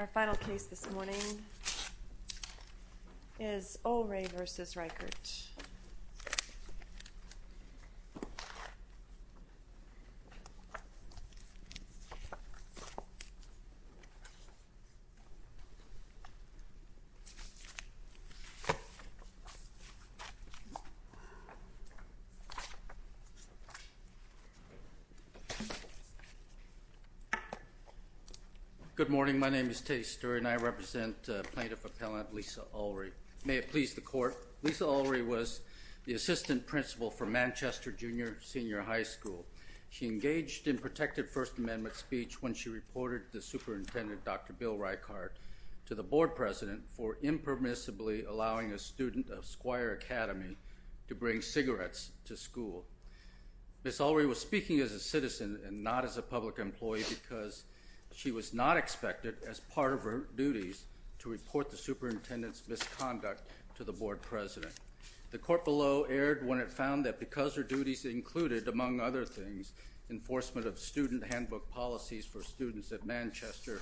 Our final case this morning is Ulrey v. Reichhart. Good morning, my name is Teddy Sture and I represent Plaintiff Appellant Lisa Ulrey. May it please the court, Lisa Ulrey was the assistant principal for Manchester Junior Senior High School. She engaged in protected First Amendment speech when she reported the superintendent, Dr. Bill Reichhart, to the board president for impermissibly allowing a student of Squire Academy to bring cigarettes to school. Ms. Ulrey was speaking as a citizen and not as a public employee because she was not expected, as part of her duties, to report the superintendent's misconduct to the board president. The court below erred when it found that because her duties included, among other things, enforcement of student handbook policies for students at Manchester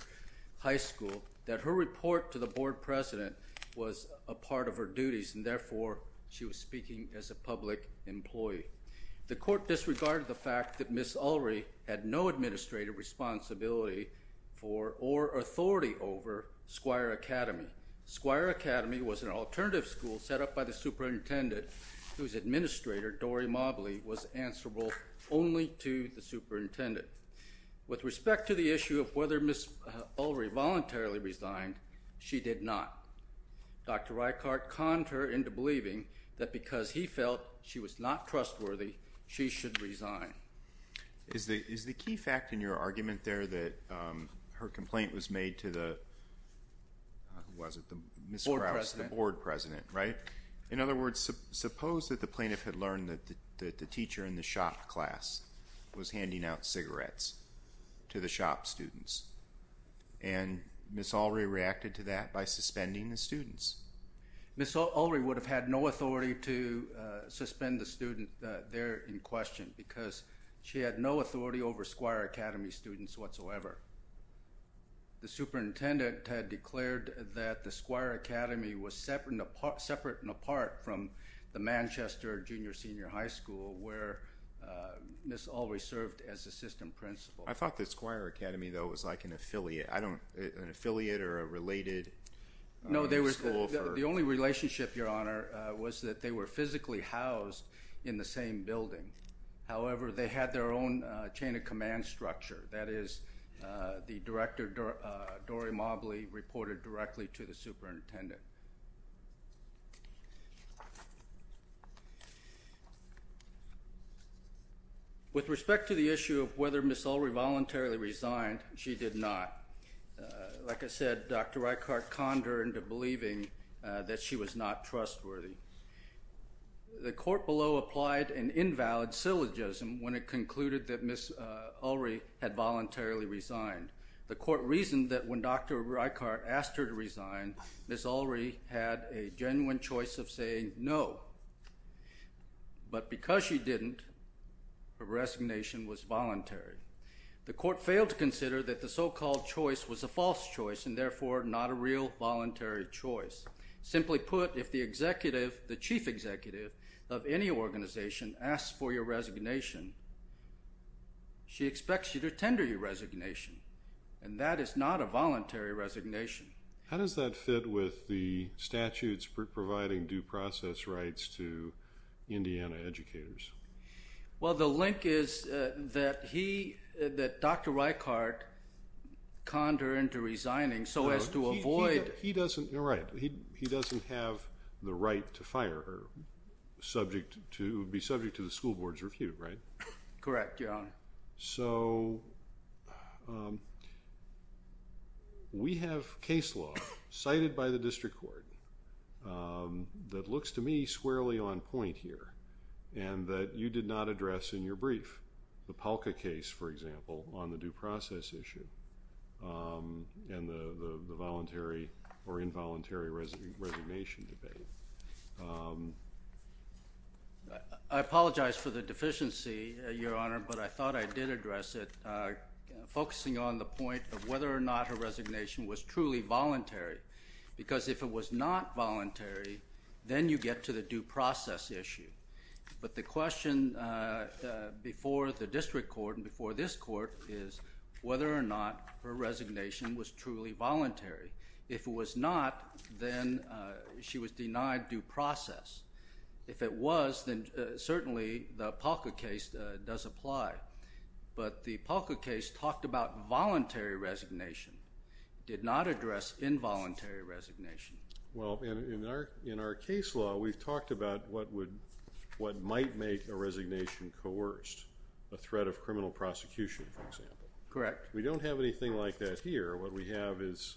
High School, that her report to the board president was a part of her duties and therefore she was speaking as a public employee. The court disregarded the fact that Ms. Ulrey had no administrative responsibility for or authority over Squire Academy. Squire Academy was an alternative school set up by the superintendent, whose administrator, Dory Mobley, was answerable only to the superintendent. With respect to the issue of whether Ms. Ulrey voluntarily resigned, she did not. Dr. Reichhart conned her into believing that because he felt she was not trustworthy, she should resign. Is the key fact in your argument there that her complaint was made to the board president? In other words, suppose that the plaintiff had learned that the teacher in the shop class was handing out cigarettes to the shop students and Ms. Ulrey reacted to that by suspending the students? Ms. Ulrey would have had no authority to suspend the student there in question because she had no authority over Squire Academy students whatsoever. The superintendent had declared that the Squire Academy was separate and apart from the Manchester Junior Senior High School, where Ms. Ulrey served as assistant principal. I thought that Squire Academy, though, was like an affiliate or a related school. No, the only relationship, Your Honor, was that they were physically housed in the same building. However, they had their own chain of command structure. That is, the director, Dory Mobley, reported directly to the superintendent. With respect to the issue of whether Ms. Ulrey voluntarily resigned, she did not. Like I said, Dr. Reichart conned her into believing that she was not trustworthy. The court below applied an invalid syllogism when it concluded that Ms. Ulrey had voluntarily resigned. The court reasoned that when Dr. Reichart asked her to resign, Ms. Ulrey had a genuine choice of saying no. But because she didn't, her resignation was voluntary. The court failed to consider that the so-called choice was a false choice and, therefore, not a real voluntary choice. Simply put, if the chief executive of any organization asks for your resignation, she expects you to tender your resignation. And that is not a voluntary resignation. How does that fit with the statutes providing due process rights to Indiana educators? Well, the link is that Dr. Reichart conned her into resigning so as to avoid— He doesn't—you're right. He doesn't have the right to fire her subject to—be subject to the school board's review, right? Correct, Your Honor. So, we have case law cited by the district court that looks to me squarely on point here and that you did not address in your brief. The Polka case, for example, on the due process issue and the voluntary or involuntary resignation debate. I apologize for the deficiency, Your Honor, but I thought I did address it focusing on the point of whether or not her resignation was truly voluntary. Because if it was not voluntary, then you get to the due process issue. But the question before the district court and before this court is whether or not her resignation was truly voluntary. If it was not, then she was denied due process. If it was, then certainly the Polka case does apply. But the Polka case talked about voluntary resignation, did not address involuntary resignation. Well, in our case law, we've talked about what would—what might make a resignation coerced, a threat of criminal prosecution, for example. Correct. We don't have anything like that here. What we have is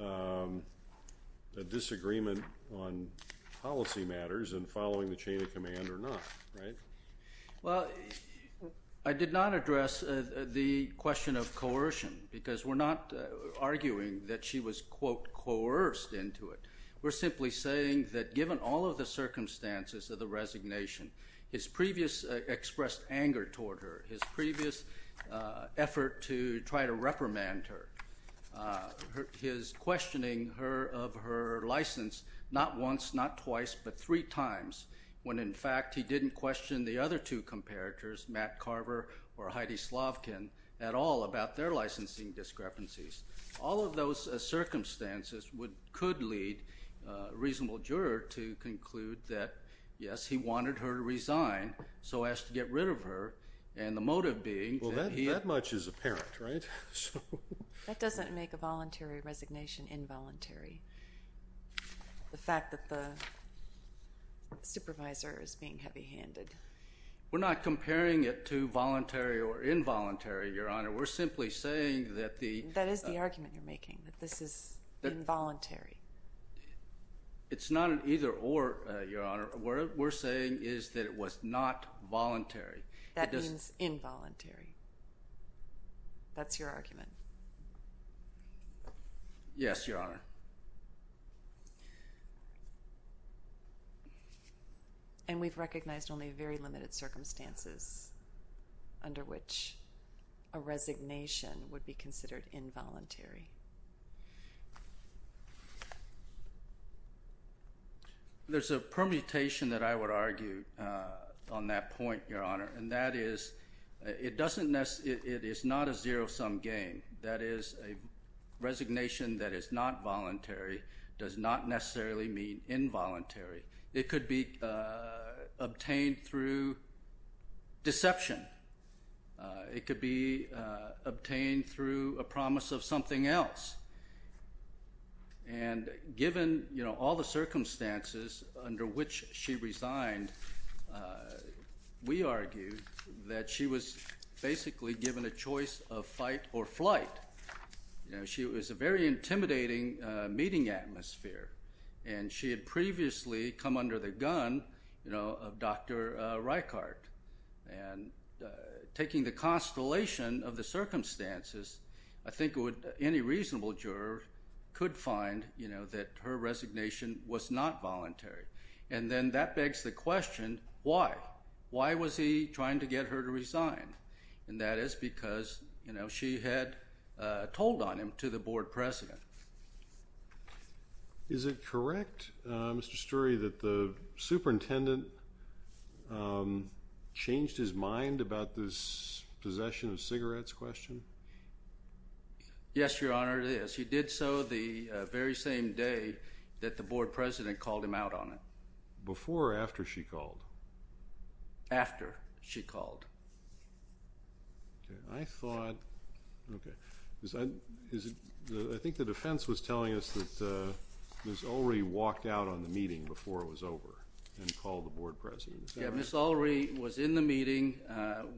a disagreement on policy matters and following the chain of command or not, right? Well, I did not address the question of coercion because we're not arguing that she was, quote, coerced into it. We're simply saying that given all of the circumstances of the resignation, his previous expressed anger toward her, his previous effort to try to reprimand her, his questioning of her license not once, not twice, but three times when, in fact, he didn't question the other two comparators, Matt Carver or Heidi Slavkin, at all about their licensing discrepancies. All of those circumstances could lead a reasonable juror to conclude that, yes, he wanted her to resign, so as to get rid of her, and the motive being that he— Well, that much is apparent, right? That doesn't make a voluntary resignation involuntary, the fact that the supervisor is being heavy-handed. We're not comparing it to voluntary or involuntary, Your Honor. We're simply saying that the— That is the argument you're making, that this is involuntary. It's not an either-or, Your Honor. What we're saying is that it was not voluntary. That means involuntary. That's your argument. Yes, Your Honor. And we've recognized only very limited circumstances under which a resignation would be considered involuntary. There's a permutation that I would argue on that point, Your Honor, and that is it doesn't—it is not a zero-sum game. That is, a resignation that is not voluntary does not necessarily mean involuntary. It could be obtained through deception. It could be obtained through a promise of something else. And given, you know, all the circumstances under which she resigned, we argue that she was basically given a choice of fight or flight. You know, she was a very intimidating meeting atmosphere, and she had previously come under the gun, you know, of Dr. Reichardt. And taking the constellation of the circumstances, I think any reasonable juror could find, you know, that her resignation was not voluntary. And then that begs the question, why? Why was he trying to get her to resign? And that is because, you know, she had told on him to the board president. Is it correct, Mr. Sturey, that the superintendent changed his mind about this possession of cigarettes question? Yes, Your Honor, it is. He did so the very same day that the board president called him out on it. Before or after she called? After she called. I thought, okay, I think the defense was telling us that Ms. Ulrey walked out on the meeting before it was over and called the board president. Yeah, Ms. Ulrey was in the meeting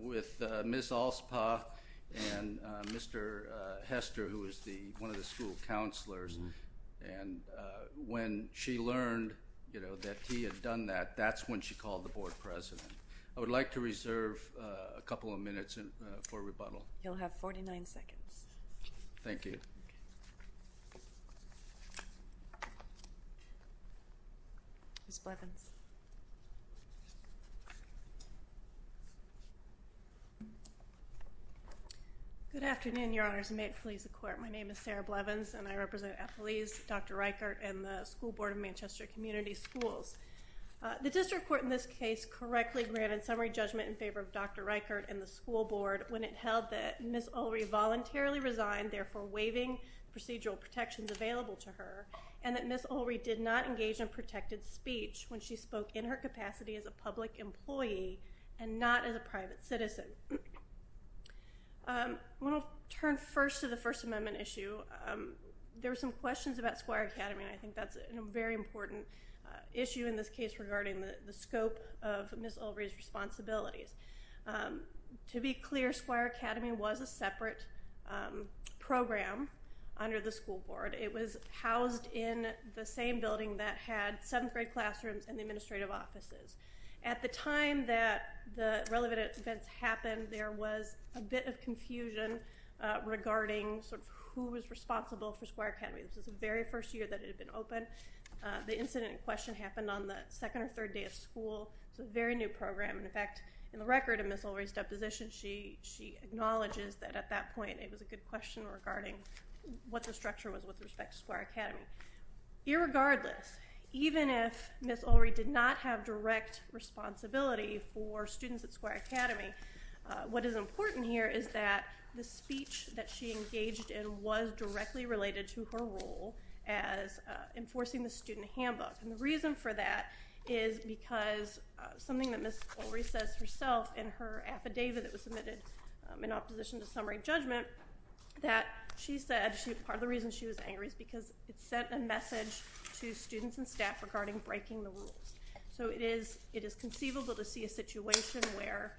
with Ms. Alspaugh and Mr. Hester, who was one of the school counselors. And when she learned, you know, that he had done that, that's when she called the board president. I would like to reserve a couple of minutes for rebuttal. You'll have 49 seconds. Thank you. Ms. Blevins. Good afternoon, Your Honors, and may it please the Court. My name is Sarah Blevins, and I represent athletes, Dr. Reichert, and the School Board of Manchester Community Schools. The district court in this case correctly granted summary judgment in favor of Dr. Reichert and the school board when it held that Ms. Ulrey voluntarily resigned, therefore waiving procedural protections available to her, and that Ms. Ulrey did not engage in protected speech when she spoke in her capacity as a public employee and not as a private citizen. I want to turn first to the First Amendment issue. There were some questions about Squire Academy, and I think that's a very important issue in this case regarding the scope of Ms. Ulrey's responsibilities. To be clear, Squire Academy was a separate program under the school board. It was housed in the same building that had seventh-grade classrooms and the administrative offices. At the time that the relevant events happened, there was a bit of confusion regarding sort of who was responsible for Squire Academy. This was the very first year that it had been open. The incident in question happened on the second or third day of school. It was a very new program. In fact, in the record of Ms. Ulrey's deposition, she acknowledges that at that point it was a good question regarding what the structure was with respect to Squire Academy. Irregardless, even if Ms. Ulrey did not have direct responsibility for students at Squire Academy, what is important here is that the speech that she engaged in was directly related to her role as enforcing the student handbook. And the reason for that is because something that Ms. Ulrey says herself in her affidavit that was submitted in opposition to summary judgment that she said part of the reason she was angry is because it sent a message to students and staff regarding breaking the rules. So it is conceivable to see a situation where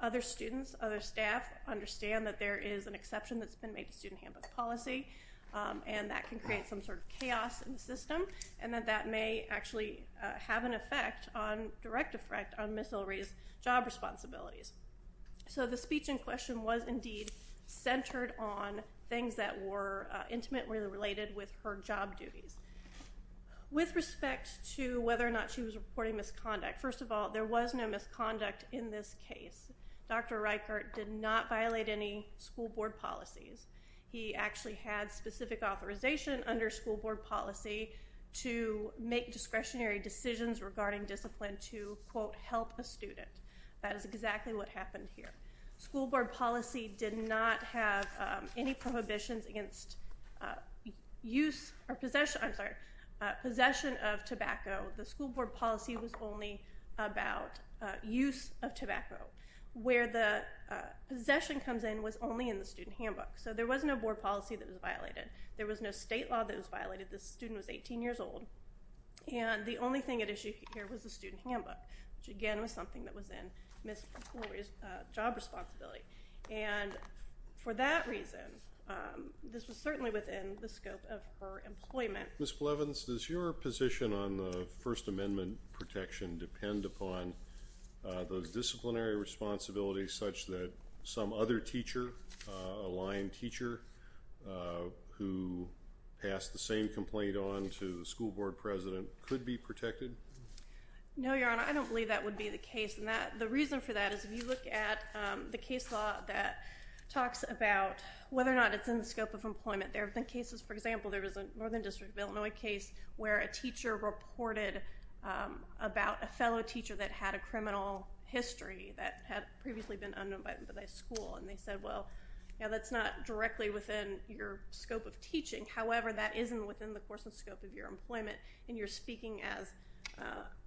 other students, other staff understand that there is an exception that's been made to student handbook policy and that can create some sort of chaos in the system and that that may actually have an effect on direct effect on Ms. Ulrey's job responsibilities. So the speech in question was indeed centered on things that were intimately related with her job duties. With respect to whether or not she was reporting misconduct, first of all, there was no misconduct in this case. Dr. Reichert did not violate any school board policies. He actually had specific authorization under school board policy to make discretionary decisions regarding discipline to, quote, help a student. That is exactly what happened here. School board policy did not have any prohibitions against use or possession of tobacco. The school board policy was only about use of tobacco. Where the possession comes in was only in the student handbook. So there was no board policy that was violated. There was no state law that was violated. The student was 18 years old. And the only thing at issue here was the student handbook, which again was something that was in Ms. Ulrey's job description. And for that reason, this was certainly within the scope of her employment. Ms. Clevens, does your position on the First Amendment protection depend upon those disciplinary responsibilities such that some other teacher, a line teacher, who passed the same complaint on to the school board president, could be protected? No, Your Honor. I don't believe that would be the case. And the reason for that is if you look at the case law that talks about whether or not it's in the scope of employment. There have been cases, for example, there was a Northern District of Illinois case where a teacher reported about a fellow teacher that had a criminal history that had previously been unknown by the school. And they said, well, that's not directly within your scope of teaching. However, that isn't within the course and scope of your employment. And you're speaking as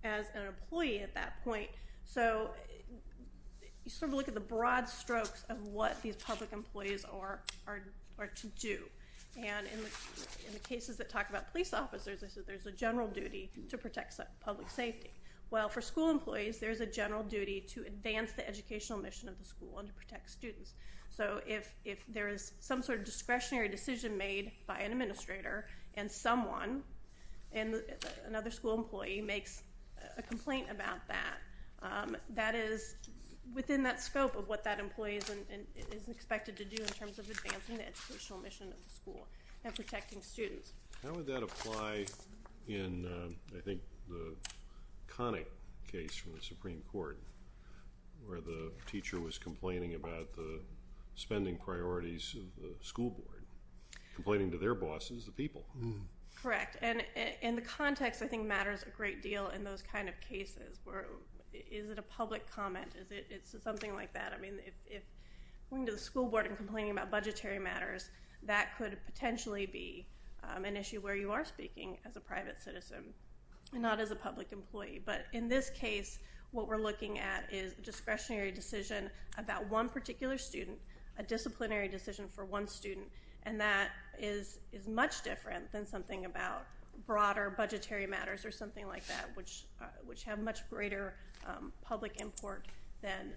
an employee at that point. So you sort of look at the broad strokes of what these public employees are to do. And in the cases that talk about police officers, there's a general duty to protect public safety. Well, for school employees, there's a general duty to advance the educational mission of the school and to protect students. So if there is some sort of discretionary decision made by an administrator and someone, another school employee, makes a complaint about that, that is within that scope of what that employee is expected to do in terms of advancing the educational mission of the school and protecting students. How would that apply in, I think, the Connick case from the Supreme Court where the teacher was complaining about the spending priorities of the school board, complaining to their bosses, the people? Correct. And the context, I think, matters a great deal in those kind of cases. Is it a public comment? Is it something like that? I mean, if going to the school board and complaining about budgetary matters, that could potentially be an issue where you are speaking as a private citizen and not as a public employee. But in this case, what we're looking at is a discretionary decision about one particular student, a disciplinary decision for one student. And that is much different than something about broader budgetary matters or something like that, which have much greater public import than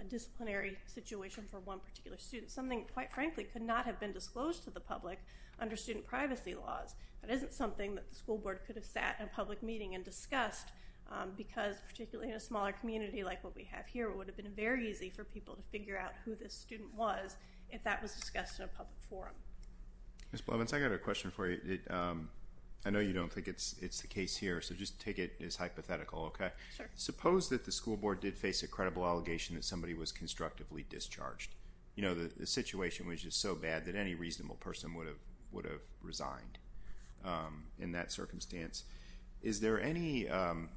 a disciplinary situation for one particular student. Something, quite frankly, could not have been disclosed to the public under student privacy laws. That isn't something that the school board could have sat in a public meeting and discussed because, particularly in a smaller community like what we have here, it would have been very easy for people to figure out who this student was if that was discussed in a public forum. Ms. Blevins, I got a question for you. I know you don't think it's the case here, so just take it as hypothetical, okay? Sure. Suppose that the school board did face a credible allegation that somebody was constructively discharged. You know, the situation was just so bad that any reasonable person would have resigned in that circumstance. Is there any,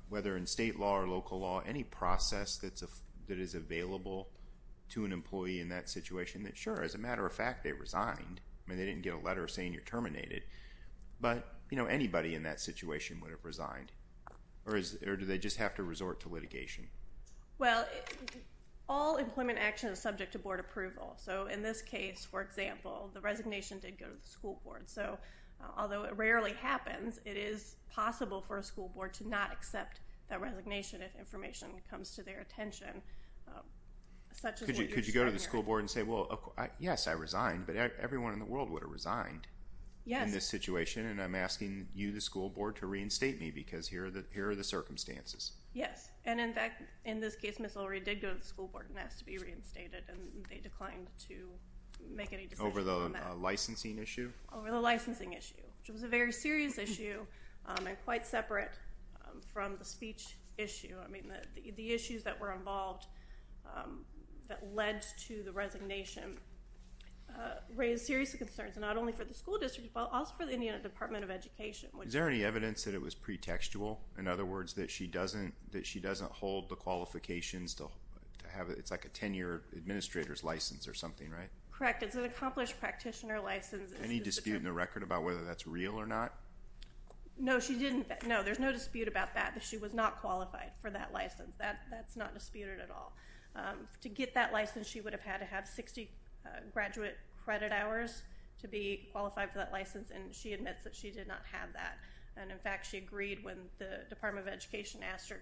whether in state law or local law, any process that is available to an employee in that situation that, sure, as a matter of fact, they resigned? I mean, they didn't get a letter saying you're terminated. But, you know, anybody in that situation would have resigned, or do they just have to resort to litigation? Well, all employment action is subject to board approval. So, in this case, for example, the resignation did go to the school board. So, although it rarely happens, it is possible for a school board to not accept that resignation if information comes to their attention. Could you go to the school board and say, well, yes, I resigned, but everyone in the world would have resigned in this situation, and I'm asking you, the school board, to reinstate me because here are the circumstances. Yes. And, in fact, in this case, Ms. O'Reilly did go to the school board and asked to be reinstated, and they declined to make any decisions on that. Over the licensing issue? Over the licensing issue, which was a very serious issue and quite separate from the speech issue. I mean, the issues that were involved that led to the resignation raised serious concerns, not only for the school district, but also for the Indiana Department of Education. Is there any evidence that it was pretextual? In other words, that she doesn't hold the qualifications to have it? It's like a tenure administrator's license or something, right? Correct. It's an accomplished practitioner license. Any dispute in the record about whether that's real or not? No, she didn't. No, there's no dispute about that, that she was not qualified for that license. That's not disputed at all. To get that license, she would have had to have 60 graduate credit hours to be qualified for that license, and she admits that she did not have that. And, in fact, she agreed when the Department of Education asked her,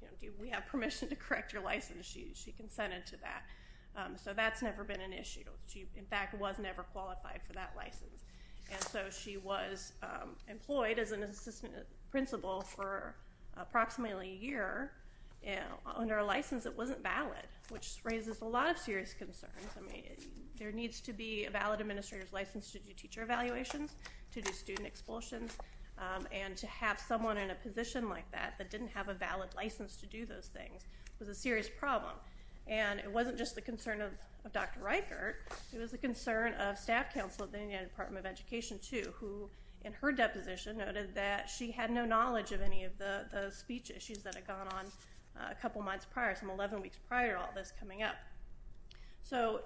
you know, do we have permission to correct your license? She consented to that. So that's never been an issue. She, in fact, was never qualified for that license. And so she was employed as an assistant principal for approximately a year under a license that wasn't valid, which raises a lot of serious concerns. I mean, there needs to be a valid administrator's license to do teacher evaluations, to do student expulsions, and to have someone in a position like that that didn't have a valid license to do those things was a serious problem. And it wasn't just the concern of Dr. Reichert. It was the concern of staff counsel at the Indiana Department of Education, too, who in her deposition noted that she had no knowledge of any of the speech issues that had gone on a couple months prior, some 11 weeks prior to all this coming up. So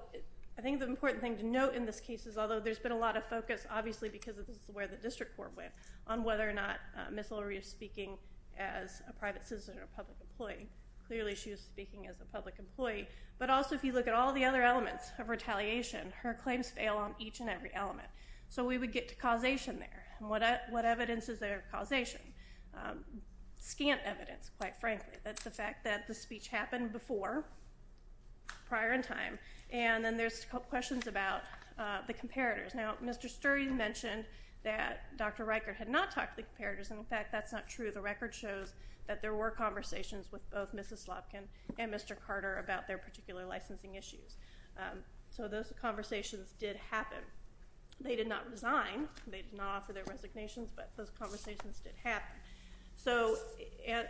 I think the important thing to note in this case is, although there's been a lot of focus, obviously because this is where the district court went, on whether or not Ms. Lurie is speaking as a private citizen or a public employee. Clearly she was speaking as a public employee. But also if you look at all the other elements of retaliation, her claims fail on each and every element. So we would get to causation there. And what evidence is there of causation? Scant evidence, quite frankly. That's the fact that the speech happened before, prior in time. And then there's questions about the comparators. Now, Mr. Sturgeon mentioned that Dr. Reichert had not talked to the comparators. And, in fact, that's not true. The record shows that there were conversations with both Mrs. Slotkin and Mr. Carter about their particular licensing issues. So those conversations did happen. They did not resign. They did not offer their resignations. But those conversations did happen.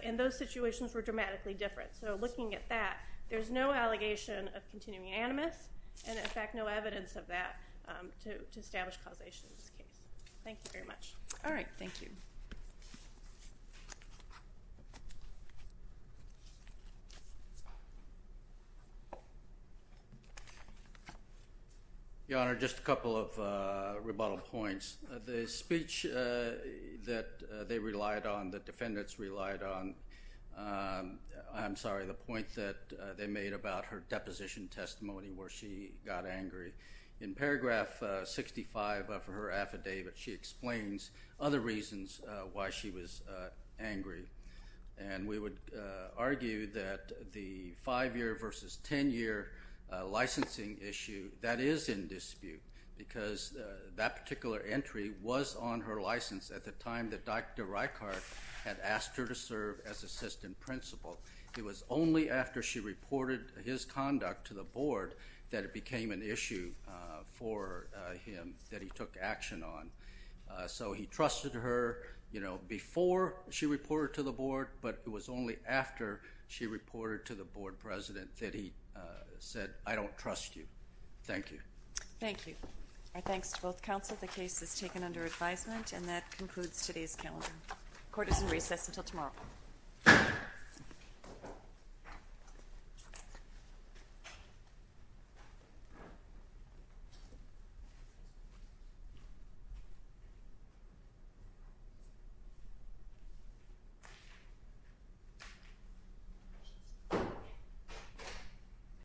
And those situations were dramatically different. So looking at that, there's no allegation of continuing animus and, in fact, no evidence of that to establish causation in this case. Thank you very much. All right. Thank you. Your Honor, just a couple of rebuttal points. The speech that they relied on, the defendants relied on, I'm sorry, the point that they made about her deposition testimony where she got angry. In paragraph 65 of her affidavit, she explains other reasons why she was angry. And we would argue that the five-year versus ten-year licensing issue, that is in dispute because that particular entry was on her license at the time that Dr. Reichart had asked her to serve as assistant principal. It was only after she reported his conduct to the board that it became an issue for him that he took action on. So he trusted her, you know, before she reported to the board, but it was only after she reported to the board president that he said, I don't trust you. Thank you. Thank you. Our thanks to both counsel. The case is taken under advisement, and that concludes today's calendar. Court is in recess until tomorrow.